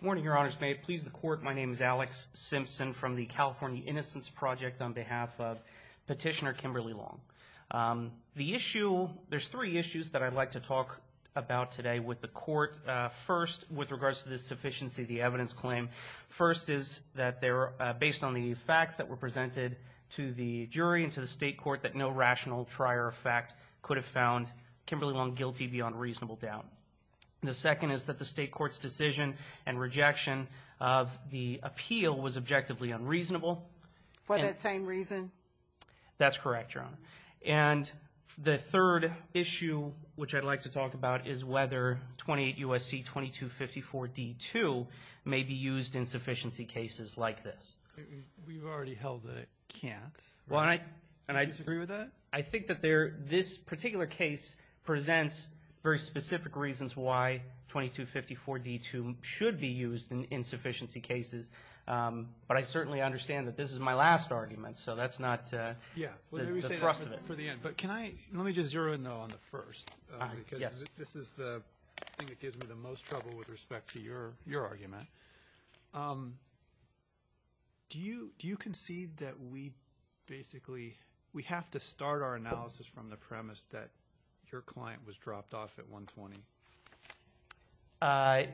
morning your honors may it please the court my name is Alex Simpson from the California innocence project on behalf of petitioner Kimberly Long the issue there's three issues that I'd like to talk about today with the court first with regards to the sufficiency of the evidence claim first is that they're based on the facts that were presented to the jury and to the state court that no rational trier of fact could have found Kimberly Long guilty beyond reasonable doubt the second is that the state court's decision and rejection of the appeal was objectively unreasonable for that same reason that's correct your honor and the third issue which I'd like to talk about is whether 28 USC 22 54 d2 may be used in sufficiency cases like this can't well I and I disagree with that I think that there this particular case presents very specific reasons why 22 54 d2 should be used in insufficiency cases but I certainly understand that this is my last argument so that's not yeah for the end but can I let me just zero in though on the first this is the thing that gives me the most trouble with respect to your your argument do you do you concede that we basically we have to start our analysis from the client was dropped off at 120 I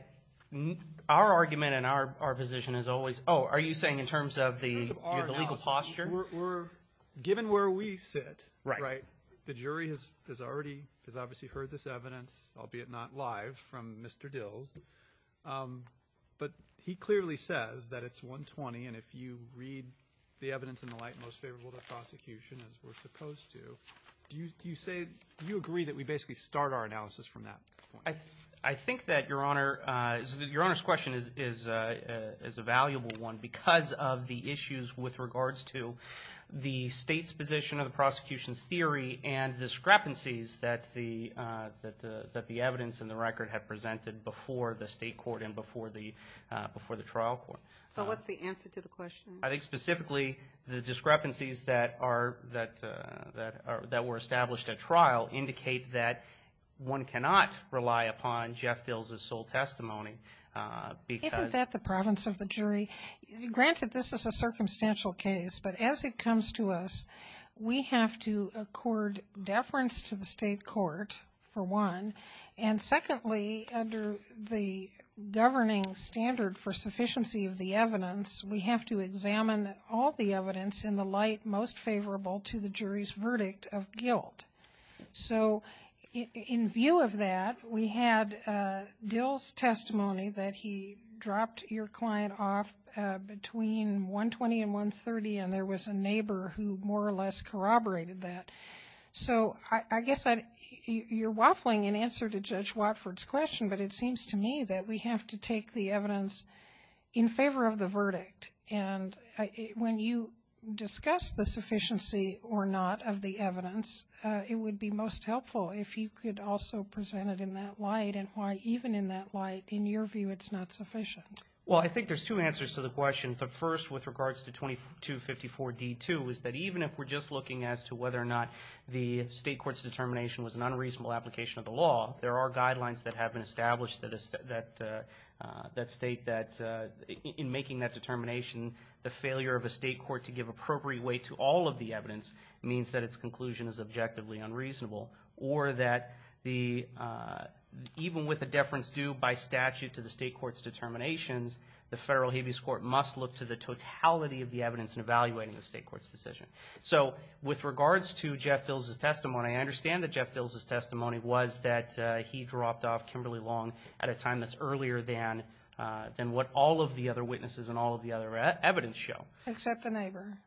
our argument in our position is always oh are you saying in terms of the legal posture given where we sit right the jury has already has obviously heard this evidence albeit not live from mr. Dills but he clearly says that it's 120 and if you read the evidence in the light most favorable to prosecution as we're supposed to do you say you agree that we basically start our analysis from that I think that your honor your honor's question is is is a valuable one because of the issues with regards to the state's position of the prosecution's theory and discrepancies that the that that the evidence in the record had presented before the state court and before the before the trial court so what's the answer to the question I think specifically the discrepancies that are that that were established a trial indicate that one cannot rely upon Jeff fills a sole testimony because that the province of the jury granted this is a circumstantial case but as it comes to us we have to accord deference to the state court for one and secondly under the governing standard for sufficiency of the evidence we have to examine all the evidence in the light most verdict of guilt so in view of that we had deals testimony that he dropped your client off between 120 and 130 and there was a neighbor who more or less corroborated that so I guess I you're waffling in answer to judge Watford's question but it seems to me that we have to take the evidence in favor of the evidence it would be most helpful if you could also presented in that light and why even in that light in your view it's not sufficient well I think there's two answers to the question the first with regards to 2254 d2 is that even if we're just looking as to whether or not the state court's determination was an unreasonable application of the law there are guidelines that have been established that is that that state that in making that determination the failure of the state court to give appropriate way to all of the evidence means that its conclusion is objectively unreasonable or that the even with the difference due by statute to the state court's determinations the federal habeas court must look to the totality of the evidence in evaluating the state court's decision so with regards to Jeff bills is testimony I understand the Jeff bills is testimony was that he dropped off Kimberly long at a time that's earlier than than what all of the other witnesses and all the other evidence show except the neighbor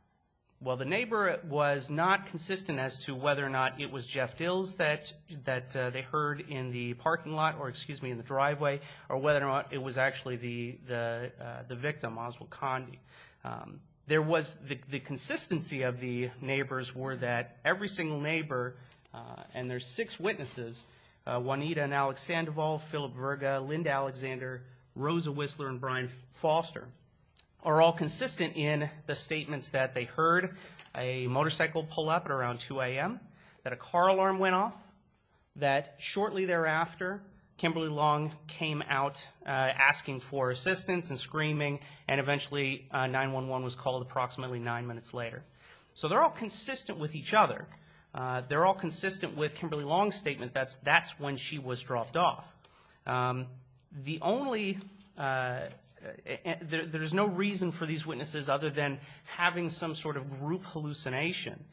well the neighbor was not consistent as to whether or not it was Jeff bills that that they heard in the parking lot or excuse me in the driveway or whether or not it was actually the the the victim Oswald Condi there was the consistency of the neighbors were that every single neighbor and there's six witnesses Juanita and Alex and of all Philip Linda Alexander Rosa Whistler and Brian Foster are all consistent in the statements that they heard a motorcycle pull up around 2 a.m. that a car alarm went off that shortly thereafter Kimberly long came out asking for assistance and screaming and eventually 9-1-1 was called approximately nine minutes later so they're all consistent with each other they're all consistent with Kimberly long statement that's that's when she was dropped off the only there's no reason for these witnesses other than having some sort of group hallucination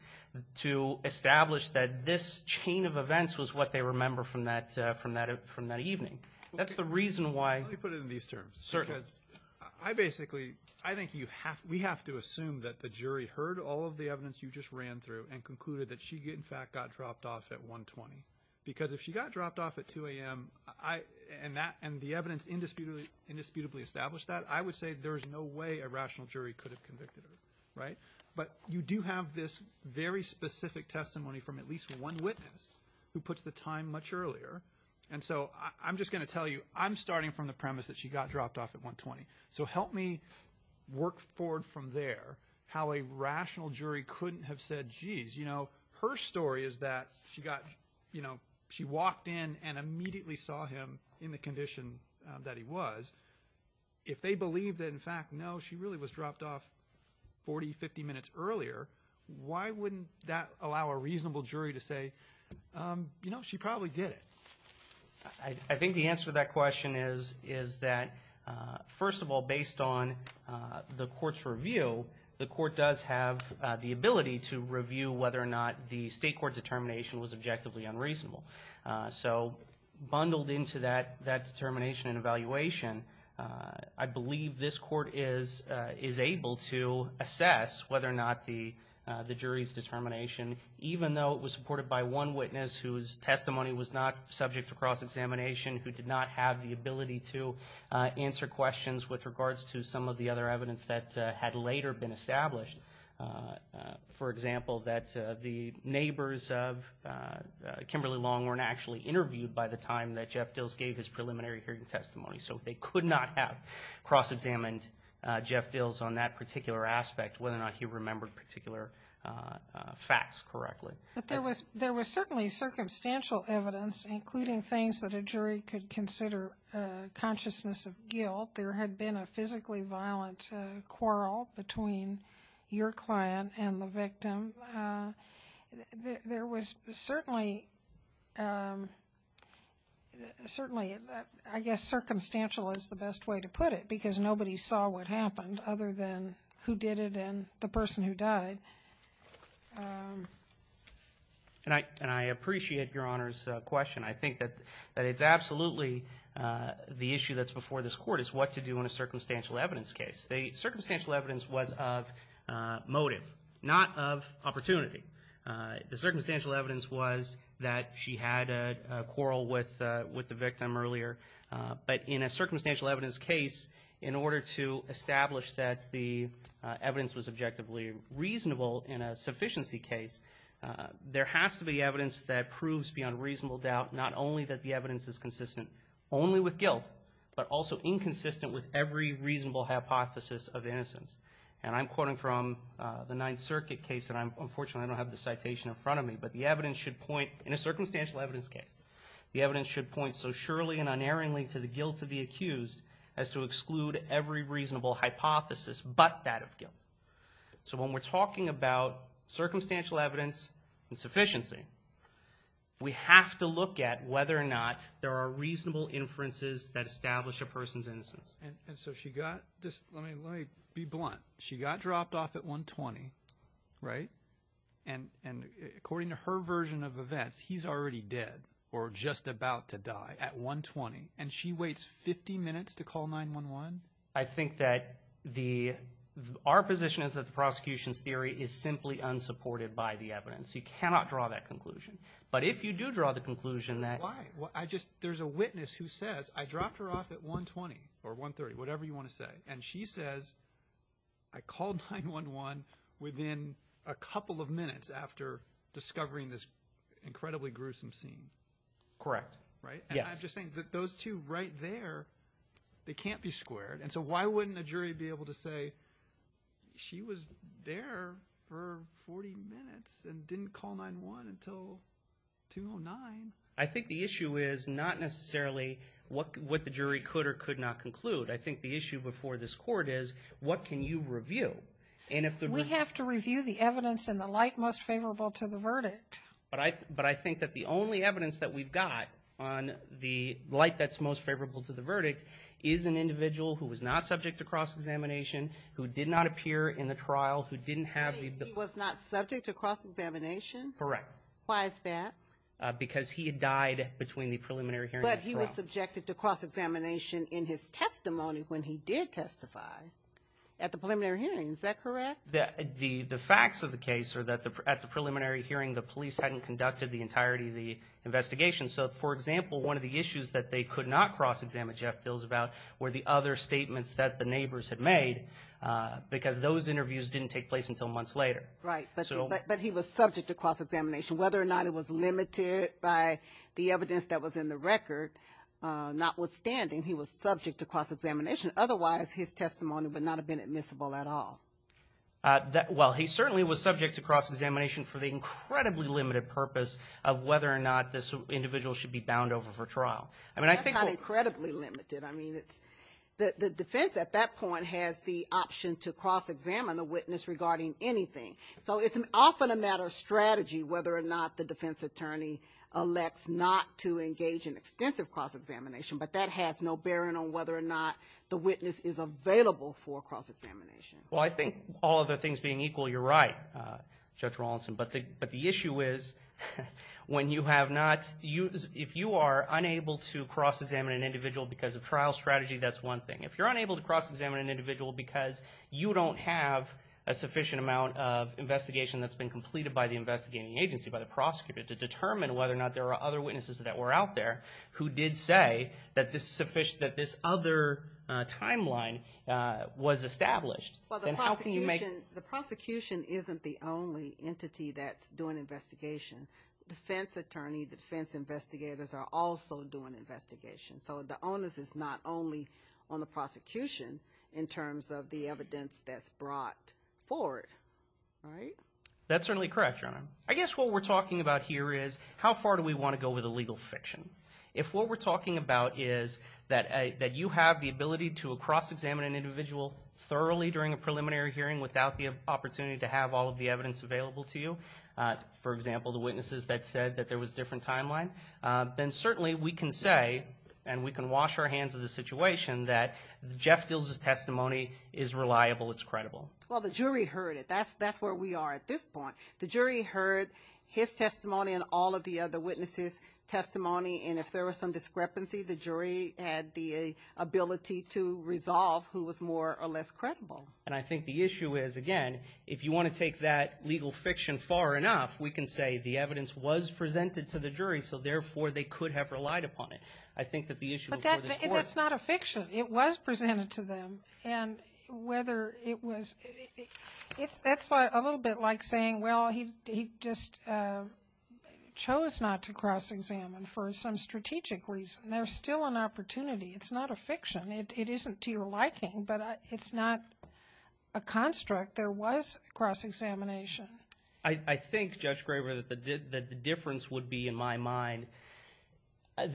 to establish that this chain of events was what they remember from that from that from that evening that's the reason why I basically I think you have we have to assume that the jury heard all of the evidence you just ran through and concluded that she did in fact got dropped off at 120 because if she got dropped off at 2 a.m. I and that and the evidence indisputably indisputably establish that I would say there's no way a rational jury could have convicted right but you do have this very specific testimony from at least one witness who puts the time much earlier and so I'm just gonna tell you I'm starting from the premise that she got dropped off at 120 so help me work forward from there how a rational jury couldn't have said jeez you know her story is that she got you know she walked in and immediately saw him in the condition that he was if they believe that in fact no she really was dropped off 40 50 minutes earlier why wouldn't that allow a reasonable jury to say you know she probably did it I think the answer that question is is that first of all based on the court's review the court does have the ability to review whether or not the state court determination was objectively unreasonable so bundled into that that determination and evaluation I believe this court is is able to assess whether or not the the jury's determination even though it was supported by one witness whose testimony was not subject to cross-examination who did not have the ability to answer questions with regards to some of the other evidence that had later been established for example that the neighbors of Kimberly Long weren't actually interviewed by the time that Jeff Dills gave his preliminary hearing testimony so they could not have cross-examined Jeff Dills on that particular aspect whether or not he remembered particular facts correctly but there was there was certainly circumstantial evidence including things that a jury could consider consciousness of guilt there had been a physically violent quarrel between your client and the victim there was certainly certainly I guess circumstantial is the best way to put it because nobody saw what happened other than who did it and the person who died and I and I appreciate your honors question I think that that it's absolutely the issue that's before this court is what to do in a circumstantial evidence case the circumstantial evidence was of motive not of opportunity the circumstantial evidence was that she had a quarrel with with the victim earlier but in a circumstantial evidence case in order to subjectively reasonable in a sufficiency case there has to be evidence that proves beyond reasonable doubt not only that the evidence is consistent only with guilt but also inconsistent with every reasonable hypothesis of innocence and I'm quoting from the Ninth Circuit case that I'm unfortunately I don't have the citation in front of me but the evidence should point in a circumstantial evidence case the evidence should point so surely and unerringly to the guilt of the accused as to exclude every reasonable hypothesis but that of guilt so when we're talking about circumstantial evidence and sufficiency we have to look at whether or not there are reasonable inferences that establish a person's innocence and so she got just let me be blunt she got dropped off at 120 right and and according to her version of events he's already dead or just about to die at 120 and she waits 50 minutes to call 9-1-1 I think that the our position is that the prosecution's theory is simply unsupported by the evidence you cannot draw that conclusion but if you do draw the conclusion that I just there's a witness who says I dropped her off at 120 or 130 whatever you want to say and she says I called 9-1-1 within a couple of minutes after discovering this incredibly gruesome scene correct right those two right there they can't be squared and so why wouldn't the jury be able to say she was there for 40 minutes and didn't call 9-1-1 until 209 I think the issue is not necessarily what what the jury could or could not conclude I think the issue before this court is what can you review and if we have to review the evidence in the light most favorable to the verdict but I but I evidence that we've got on the light that's most favorable to the verdict is an individual who was not subject to cross-examination who did not appear in the trial who didn't have he was not subject to cross-examination correct why is that because he had died between the preliminary hearing but he was subjected to cross-examination in his testimony when he did testify at the preliminary hearing is that correct that the the facts of the case or that the preliminary hearing the police hadn't conducted the entirety of the investigation so for example one of the issues that they could not cross-examine Jeff feels about where the other statements that the neighbors had made because those interviews didn't take place until months later right but he was subject to cross-examination whether or not it was limited by the evidence that was in the record notwithstanding he was subject to cross-examination otherwise his testimony would not have been admissible at all that well he certainly was subject to cross-examination for the incredibly limited purpose of whether or not this individual should be bound over for trial and I think I'm incredibly limited I mean it's the defense at that point has the option to cross-examine the witness regarding anything so it's often a matter of strategy whether or not the defense attorney elects not to engage in extensive cross-examination but that has no bearing on whether or not the witness is available for cross-examination well I think all of the things being equal you're right judge Rawlinson but the but the issue is when you have not used if you are unable to cross-examine an individual because of trial strategy that's one thing if you're unable to cross-examine an individual because you don't have a sufficient amount of investigation that's been completed by the investigating agency by the prosecutor to determine whether or not there are other witnesses that were out there who did say that this sufficient that this other timeline was established and how the prosecution isn't the only entity that's doing investigation defense attorney the defense investigators are also doing investigation so the onus is not only on the prosecution in terms of the evidence that's brought for it right that's certainly correct your honor I guess what we're talking about here is how far do we want to go with a legal fiction if what we're talking about is that a that you have the ability to a cross-examine an individual thoroughly during a preliminary hearing without the opportunity to have all of the evidence available to you for example the witnesses that said that there was different timeline then certainly we can say and we can wash our hands of the situation that Jeff deals his testimony is reliable it's credible well the jury heard it that's that's where we are at this point the jury heard his testimony and all of the other witnesses testimony and if there was some discrepancy the and I think the issue is again if you want to take that legal fiction far enough we can say the evidence was presented to the jury so therefore they could have relied upon it I think that the issue that's not a fiction it was presented to them and whether it was it's that's why a little bit like saying well he just chose not to cross-examine for some strategic reason there's still an opportunity it's not a fiction it isn't to your liking but it's not a construct there was cross-examination I think judge Graver that the difference would be in my mind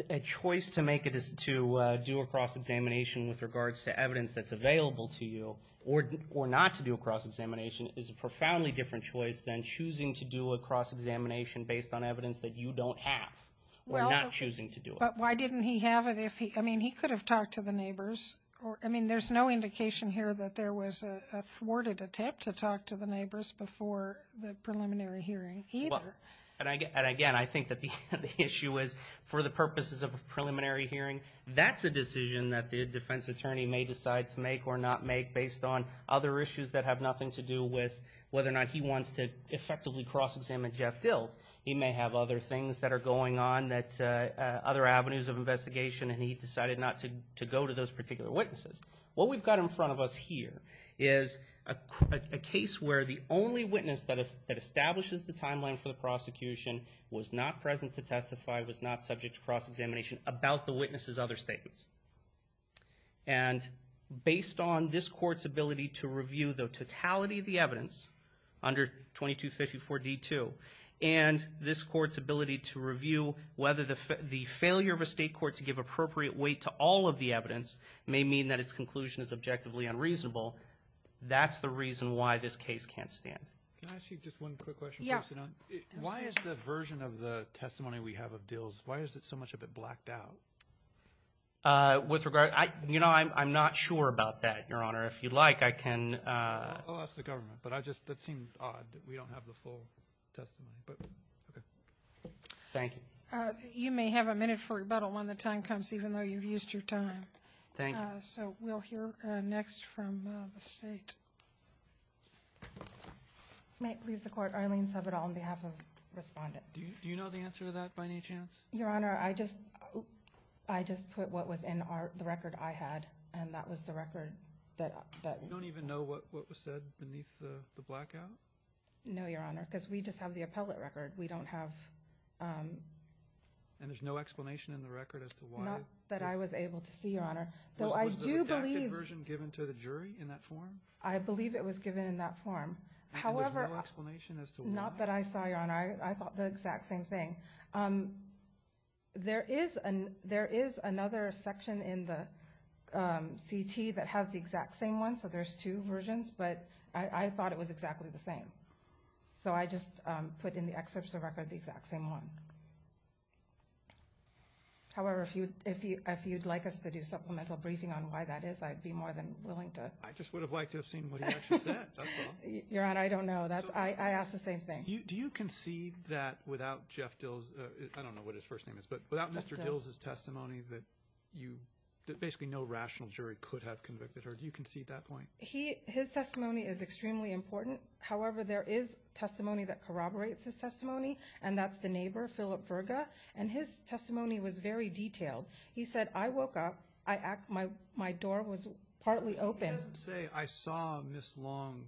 a choice to make it is to do a cross-examination with regards to evidence that's available to you or or not to do a cross-examination is a profoundly different choice than choosing to do a cross-examination based on evidence that you don't have we're not choosing to do it but why didn't he have it if he I mean he could have talked to the neighbors or I mean there's no indication here that there was a thwarted attempt to talk to the neighbors before the preliminary hearing either and I get and again I think that the issue is for the purposes of a preliminary hearing that's a decision that the defense attorney may decide to make or not make based on other issues that have nothing to do with whether or not he wants to effectively cross-examine Jeff Dills he may have other things that are going on that other avenues of investigation and he decided not to go to those particular witnesses what we've got in front of us here is a case where the only witness that establishes the timeline for the prosecution was not present to testify was not subject to cross-examination about the witnesses other statements and based on this and this court's ability to review whether the failure of a state court to give appropriate weight to all of the evidence may mean that its conclusion is objectively unreasonable that's the reason why this case can't stand why is the version of the testimony we have of deals why is it so much of it blacked out with regard I you know I'm not sure about that your honor if you'd I can but I just thank you you may have a minute for rebuttal when the time comes even though you've used your time thank you so we'll hear next from the state may please the court Arlene sub it all on behalf of respondent do you know the answer to that by any chance your honor I just I just put what was in our the record I had and that was the record that I don't even know what was said beneath the blackout no your honor because we just have the appellate record we don't have and there's no explanation in the record as to why not that I was able to see your honor though I do believe version given to the jury in that form I believe it was given in that form however explanation as to not that I saw your honor I thought the exact same thing there is and there is another section in the CT that has the exact same one so there's two versions but I thought it was exactly the same so I just put in the excerpts of record the exact same one however if you if you if you'd like us to do supplemental briefing on why that is I'd be more than willing to I just would have liked to have seen what I don't know that's I asked the same thing you do you concede that without Jeff Dills I don't know what his first name is but without mr. Dills his testimony that you that basically no rational jury could have convicted her do you concede that point he his testimony is extremely important however there is testimony that corroborates his testimony and that's the neighbor Philip Virga and his testimony was very detailed he said I woke up I act my my door was partly open say I saw miss long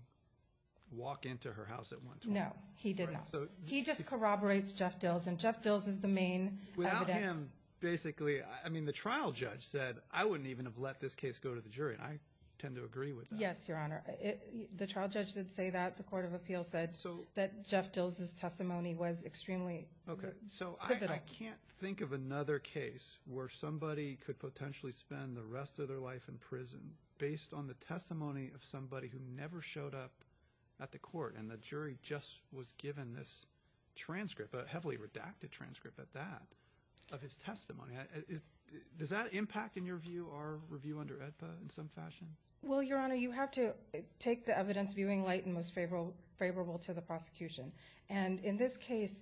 walk into her house at once no he did not so he just corroborates Jeff Dills and Jeff Dills is the main without him basically I mean the trial judge said I wouldn't even have let this case go to the jury and I tend to agree with yes your honor the trial judge did say that the Court of Appeals said so that Jeff Dills his testimony was extremely okay so I can't think of another case where somebody could potentially spend the rest of their life in prison based on the testimony of somebody who never showed up at the court and the jury just was this transcript but heavily redacted transcript at that of his testimony is does that impact in your view our review under edpa in some fashion well your honor you have to take the evidence viewing light and most favorable favorable to the prosecution and in this case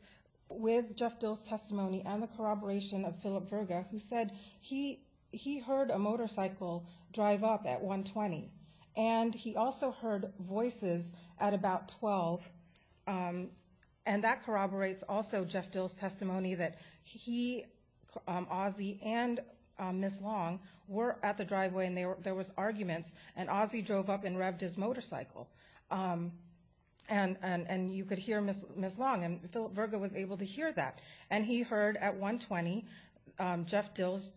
with Jeff Dills testimony and the corroboration of Philip Virga who said he he heard a motorcycle drive up at 120 and he also heard voices at about 12 and that corroborates also Jeff Dills testimony that he Ozzie and miss long were at the driveway and they were there was arguments and Ozzie drove up and revved his motorcycle and and and you could hear miss miss long and Philip Virga was able to hear that and he heard at 120 Jeff Dills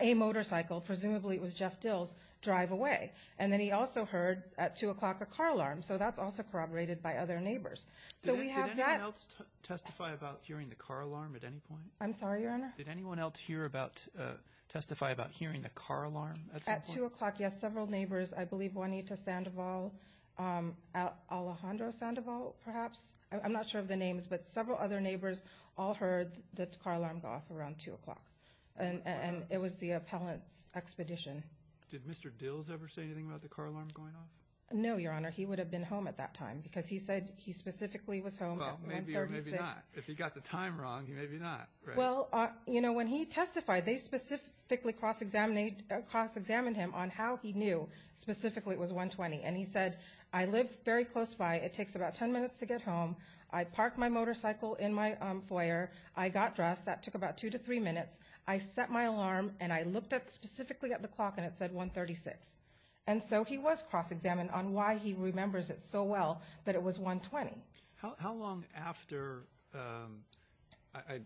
a motorcycle presumably it was Jeff Dills drive away and then he also heard at two o'clock a car alarm so that's also corroborated by other neighbors so we have that else testify about hearing the car alarm at any point I'm sorry your honor did anyone else hear about testify about hearing a car alarm at two o'clock yes several neighbors I believe Juanita Sandoval Alejandro Sandoval perhaps I'm not sure of the names but several other neighbors all heard the car alarm go off around two o'clock and and it was the appellant's expedition did mr. Dills ever say anything about the car alarm going off no your honor he would have been home at that time because he said he specifically was home if he got the time wrong maybe not well you know when he testified they specifically cross-examined cross-examined him on how he knew specifically it was 120 and he said I live very close by it takes about 10 minutes to get home I parked my motorcycle in my foyer I got dressed that took about two to three minutes I set my alarm and I looked at specifically at the clock and it said 136 and so he was cross-examined on why he remembers it so well that it was 120 how long after I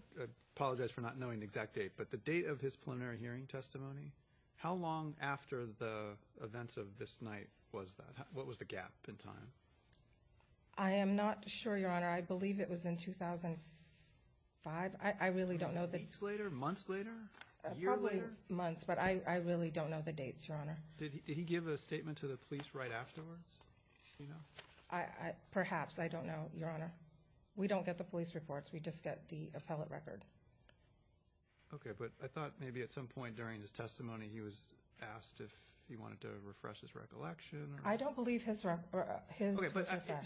apologize for not knowing the exact date but the date of his preliminary hearing testimony how long after the events of this night was that what was the gap in time I am not sure your honor I believe it was in 2005 I really don't know that it's later months later you're late months but I really don't know the dates your honor did he give a statement to the police right afterwards I perhaps I don't know your honor we don't get the police reports we just get the appellate record okay but I thought maybe at some point during his testimony he was asked if he wanted to refresh his recollection I don't believe his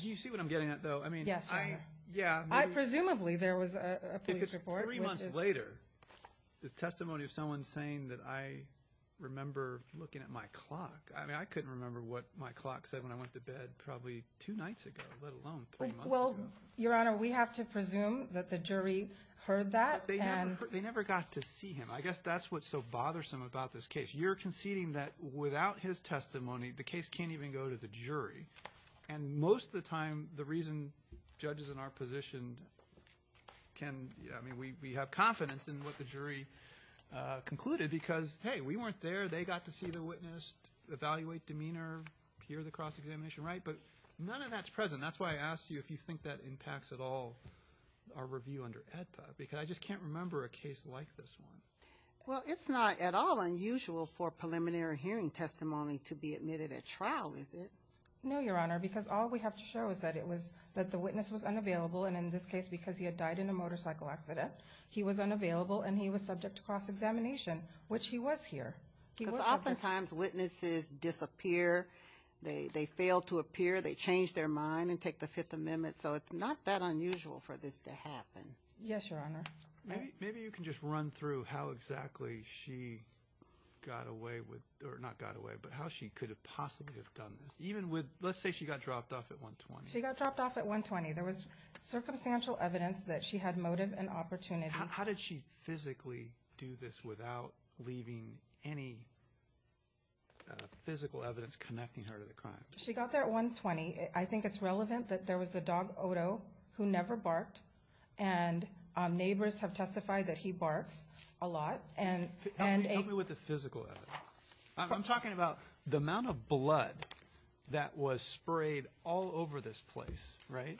you see what I'm getting at though I mean yes I yeah I presumably there was a three months later the testimony of someone saying that I remember looking at my clock I mean I couldn't remember what my clock said when I went to bed probably two nights ago well your honor we have to presume that the jury heard that they never got to see him I guess that's what's so bothersome about this case you're conceding that without his testimony the case can't even go to the jury and most of the time the reason judges in our position can I mean we have confidence in what the jury concluded because hey we weren't there they got to see the witness evaluate demeanor hear the cross-examination right but none of that's present that's why I asked you if you think that impacts at all our review under because I just can't remember a case like this one well it's not at all unusual for preliminary hearing testimony to be admitted at trial is it no your honor because all we have to show is that it was that the witness was unavailable and in this case because he had died in a motorcycle accident he was unavailable and he was subject to cross-examination which he was here oftentimes witnesses disappear they failed to appear they so it's not that unusual for this to happen yes your honor maybe you can just run through how exactly she got away with or not got away but how she could have possibly have done this even with let's say she got dropped off at 120 she got dropped off at 120 there was circumstantial evidence that she had motive and opportunity how did she physically do this without leaving any physical evidence connecting her to the crime she got there at 120 I think it's relevant that there was a dog who never barked and neighbors have testified that he barks a lot and and a with the physical I'm talking about the amount of blood that was sprayed all over this place right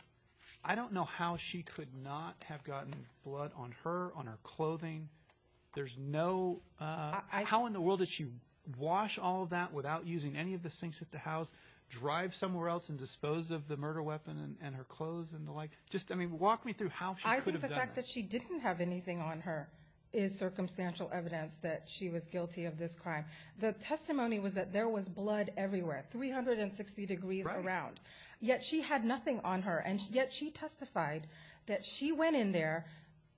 I don't know how she could not have gotten blood on her on her clothing there's no I how in the world that you wash all that without using any of the sinks at the house drive somewhere else and dispose of the murder weapon and her clothes and the like just walk me through how she didn't have anything on her is circumstantial evidence that she was guilty of this crime the testimony was that there was blood everywhere 360 degrees around yet she had nothing on her and yet she testified that she went in there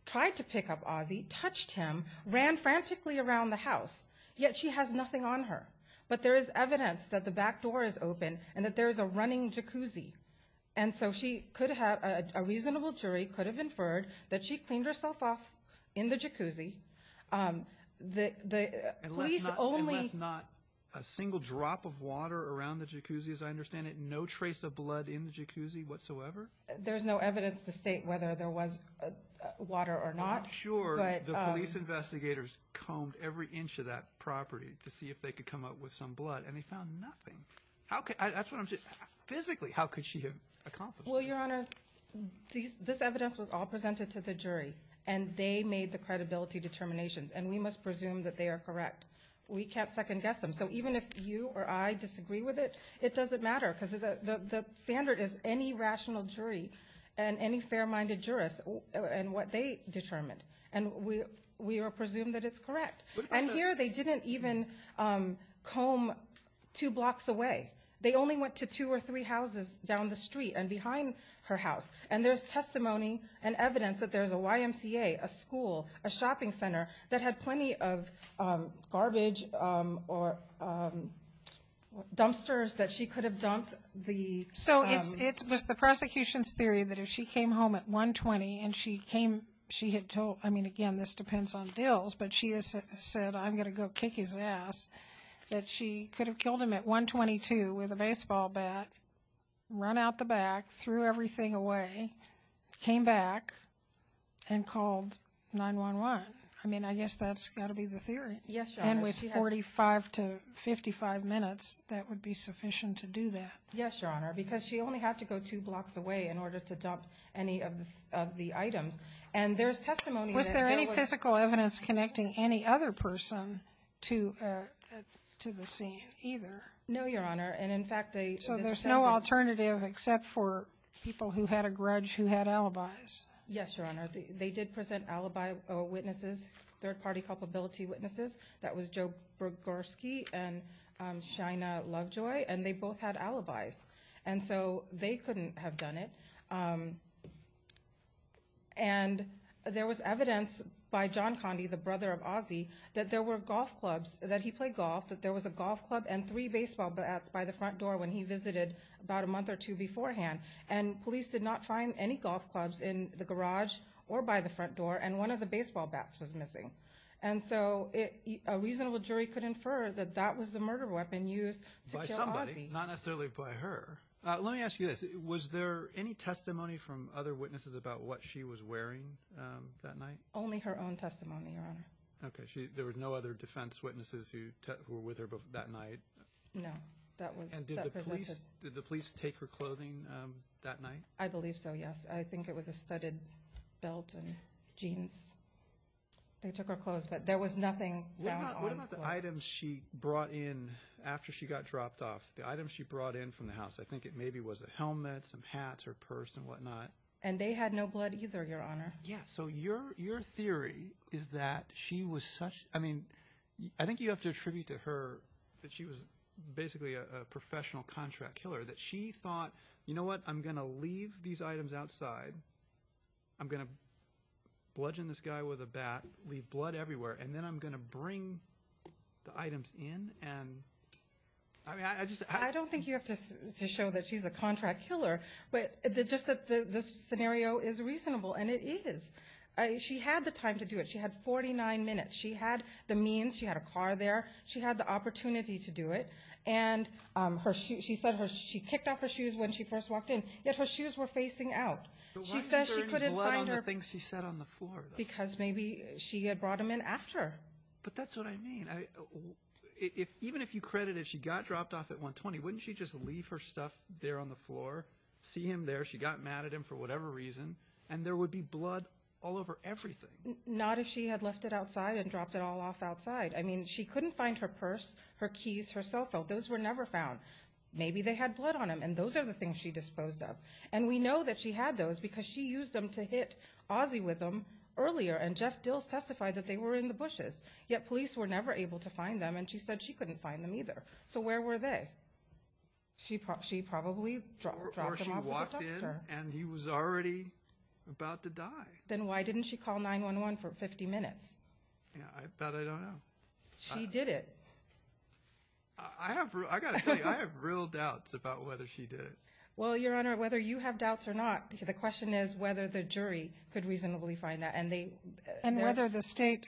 tried to pick up Ozzy touched him ran frantically around the house yet she has nothing on her but there is evidence that the back door is open and that there's a running jacuzzi and so she could have a reasonable jury could have inferred that she cleaned herself off in the jacuzzi the only not a single drop of water around the jacuzzi as I understand it no trace of blood in the jacuzzi whatsoever there's no evidence to state whether there was water or not sure the police investigators combed every inch of that property to see if they could come up with some blood and they found nothing okay that's what I'm just physically how could she have accomplished well your honor these this evidence was all presented to the jury and they made the credibility determinations and we must presume that they are correct we can't second-guess them so even if you or I disagree with it it doesn't matter because the standard is any rational jury and any fair-minded jurists and what they determined and we we are presumed that two blocks away they only went to two or three houses down the street and behind her house and there's testimony and evidence that there's a YMCA a school a shopping center that had plenty of garbage or dumpsters that she could have dumped the so it was the prosecution's theory that if she came home at 120 and she came she had told I mean again this depends on deals but she said I'm gonna go kick his ass that she could have killed him at 122 with a baseball bat run out the back threw everything away came back and called 9 1 1 I mean I guess that's gotta be the theory yes and with 45 to 55 minutes that would be sufficient to do that yes your honor because she only had to go two blocks away in order to dump any of the items and there's testimony was connecting any other person to to the scene either no your honor and in fact they so there's no alternative except for people who had a grudge who had alibis yes your honor they did present alibi or witnesses third-party culpability witnesses that was Joe Berger ski and China lovejoy and they both had alibis and so they couldn't have done it and there was evidence by the brother of Ozzie that there were golf clubs that he played golf that there was a golf club and three baseball bats by the front door when he visited about a month or two beforehand and police did not find any golf clubs in the garage or by the front door and one of the baseball bats was missing and so it a reasonable jury could infer that that was the murder weapon used not necessarily by her let me ask you this was there any testimony from other that night only her own testimony okay there was no other defense witnesses who were with her but that night did the police take her clothing that night I believe so yes I think it was a studded belt and jeans they took her clothes but there was nothing items she brought in after she got dropped off the items she brought in from the house I think it maybe was a helmet some hats or purse and whatnot and they had no blood either your honor yeah so your your theory is that she was such I mean I think you have to attribute to her that she was basically a professional contract killer that she thought you know what I'm gonna leave these items outside I'm gonna bludgeon this guy with a bat leave blood everywhere and then I'm gonna bring the items in and I don't think you have to show that she's a contract killer but just that the this scenario is reasonable and it is she had the time to do it she had 49 minutes she had the means she had a car there she had the opportunity to do it and her shoe she said her she kicked off her shoes when she first walked in yet her shoes were facing out she says she couldn't find her things she said on the floor because maybe she had brought him in after but that's what I mean if even if you credit if she got dropped off at 120 wouldn't she just leave her stuff there on the floor see him there she got mad at him for whatever reason and there would be blood all over everything not if she had left it outside and dropped it all off outside I mean she couldn't find her purse her keys her cell phone those were never found maybe they had blood on him and those are the things she disposed of and we know that she had those because she used them to hit Aussie with them earlier and Jeff Dills testified that they were in the bushes yet police were never able to find them and she said she couldn't find them either so where were they she probably she probably and he was already about to die then why didn't she call 9-1-1 for 50 minutes she did it I have real doubts about whether she did it well your honor whether you have doubts or not the question is whether the jury could reasonably find that and they and whether the state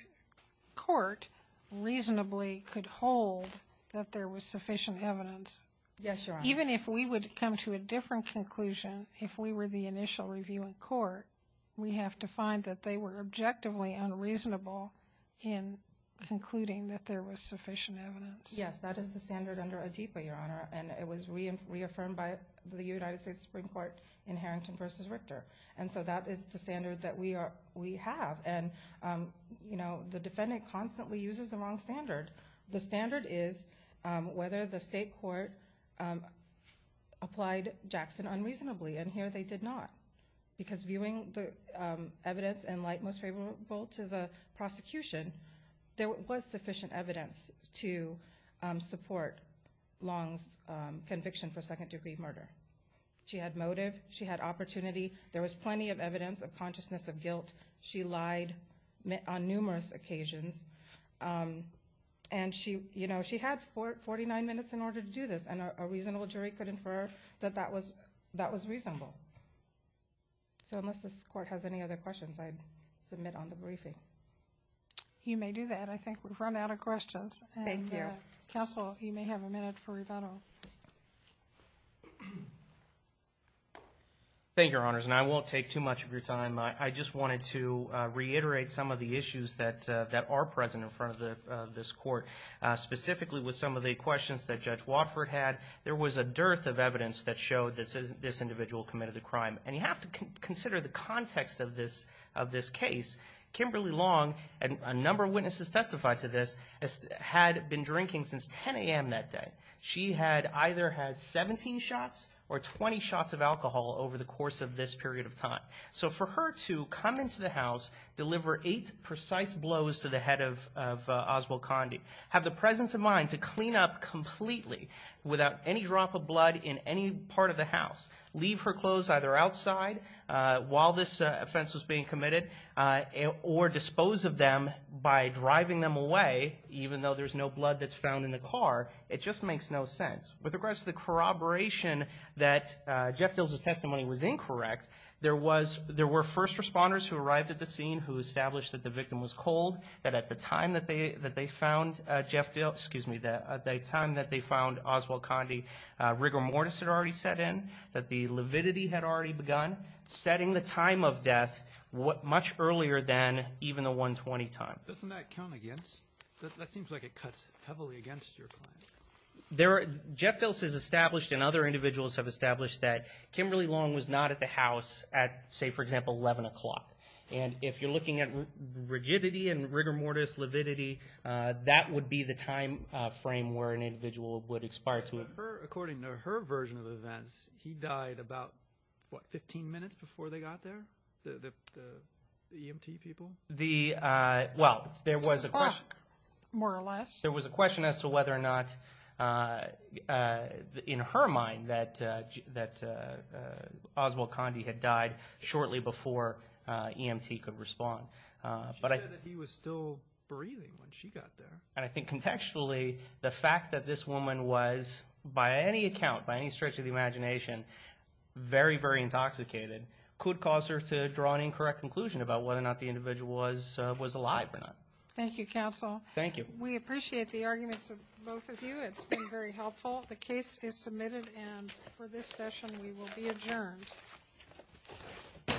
court reasonably could hold that there was sufficient evidence yes your even if we would come to a different conclusion if we were the initial review in court we have to find that they were objectively unreasonable in concluding that there was sufficient evidence yes that is the standard under a deeper your honor and it was reaffirmed by the United States Supreme Court in Harrington versus Richter and so that is the standard that we are we have and you know the defendant constantly uses the wrong standard the standard is whether the state court applied Jackson unreasonably and here they did not because viewing the evidence and light most favorable to the prosecution there was sufficient evidence to support Long's conviction for second-degree murder she had motive she had opportunity there was plenty of evidence of consciousness of guilt she lied on numerous occasions and she you know she had for 49 minutes in order to do this and a reasonable jury could infer that that was that was reasonable so unless this court has any other questions I'd submit on the briefing you may do that I think we've run out of questions thank you counsel you may have a minute for rebuttal thank your honors and I won't take too much of your time I just wanted to reiterate some of the issues that that are present in front of this court specifically with some of the questions that Judge Watford had there was a dearth of evidence that showed this is this individual committed the crime and you have to consider the context of this of this case Kimberly Long and a number of witnesses testified to this as had been drinking since 10 a.m. that day she had either had 17 shots or 20 shots of alcohol over the course of this period of time so for her to come into the house deliver eight precise blows to the head of Oswald Condie have the presence of mind to clean up completely without any drop of blood in any part of the house leave her clothes either outside while this offense was being committed or dispose of them by driving them away even though there's no blood that's found in the car it just makes no sense with regards to corroboration that Jeff Dills' testimony was incorrect there was there were first responders who arrived at the scene who established that the victim was cold that at the time that they that they found Jeff Dills excuse me that at the time that they found Oswald Condie rigor mortis had already set in that the lividity had already begun setting the time of death what much earlier than even the 120 time. Doesn't that count against that seems like it cuts heavily there are Jeff Dills has established and other individuals have established that Kimberly Long was not at the house at say for example 11 o'clock and if you're looking at rigidity and rigor mortis lividity that would be the time frame where an individual would expire to her according to her version of events he died about what 15 minutes before they got there the EMT people the well there was a question more or less there was a question as to whether or not in her mind that that Oswald Condie had died shortly before EMT could respond but I think he was still breathing when she got there and I think contextually the fact that this woman was by any account by any stretch of the imagination very very intoxicated could cause her to draw an incorrect conclusion about whether or thank you counsel thank you we appreciate the arguments of both of you it's been very helpful the case is submitted and for this session we will be adjourned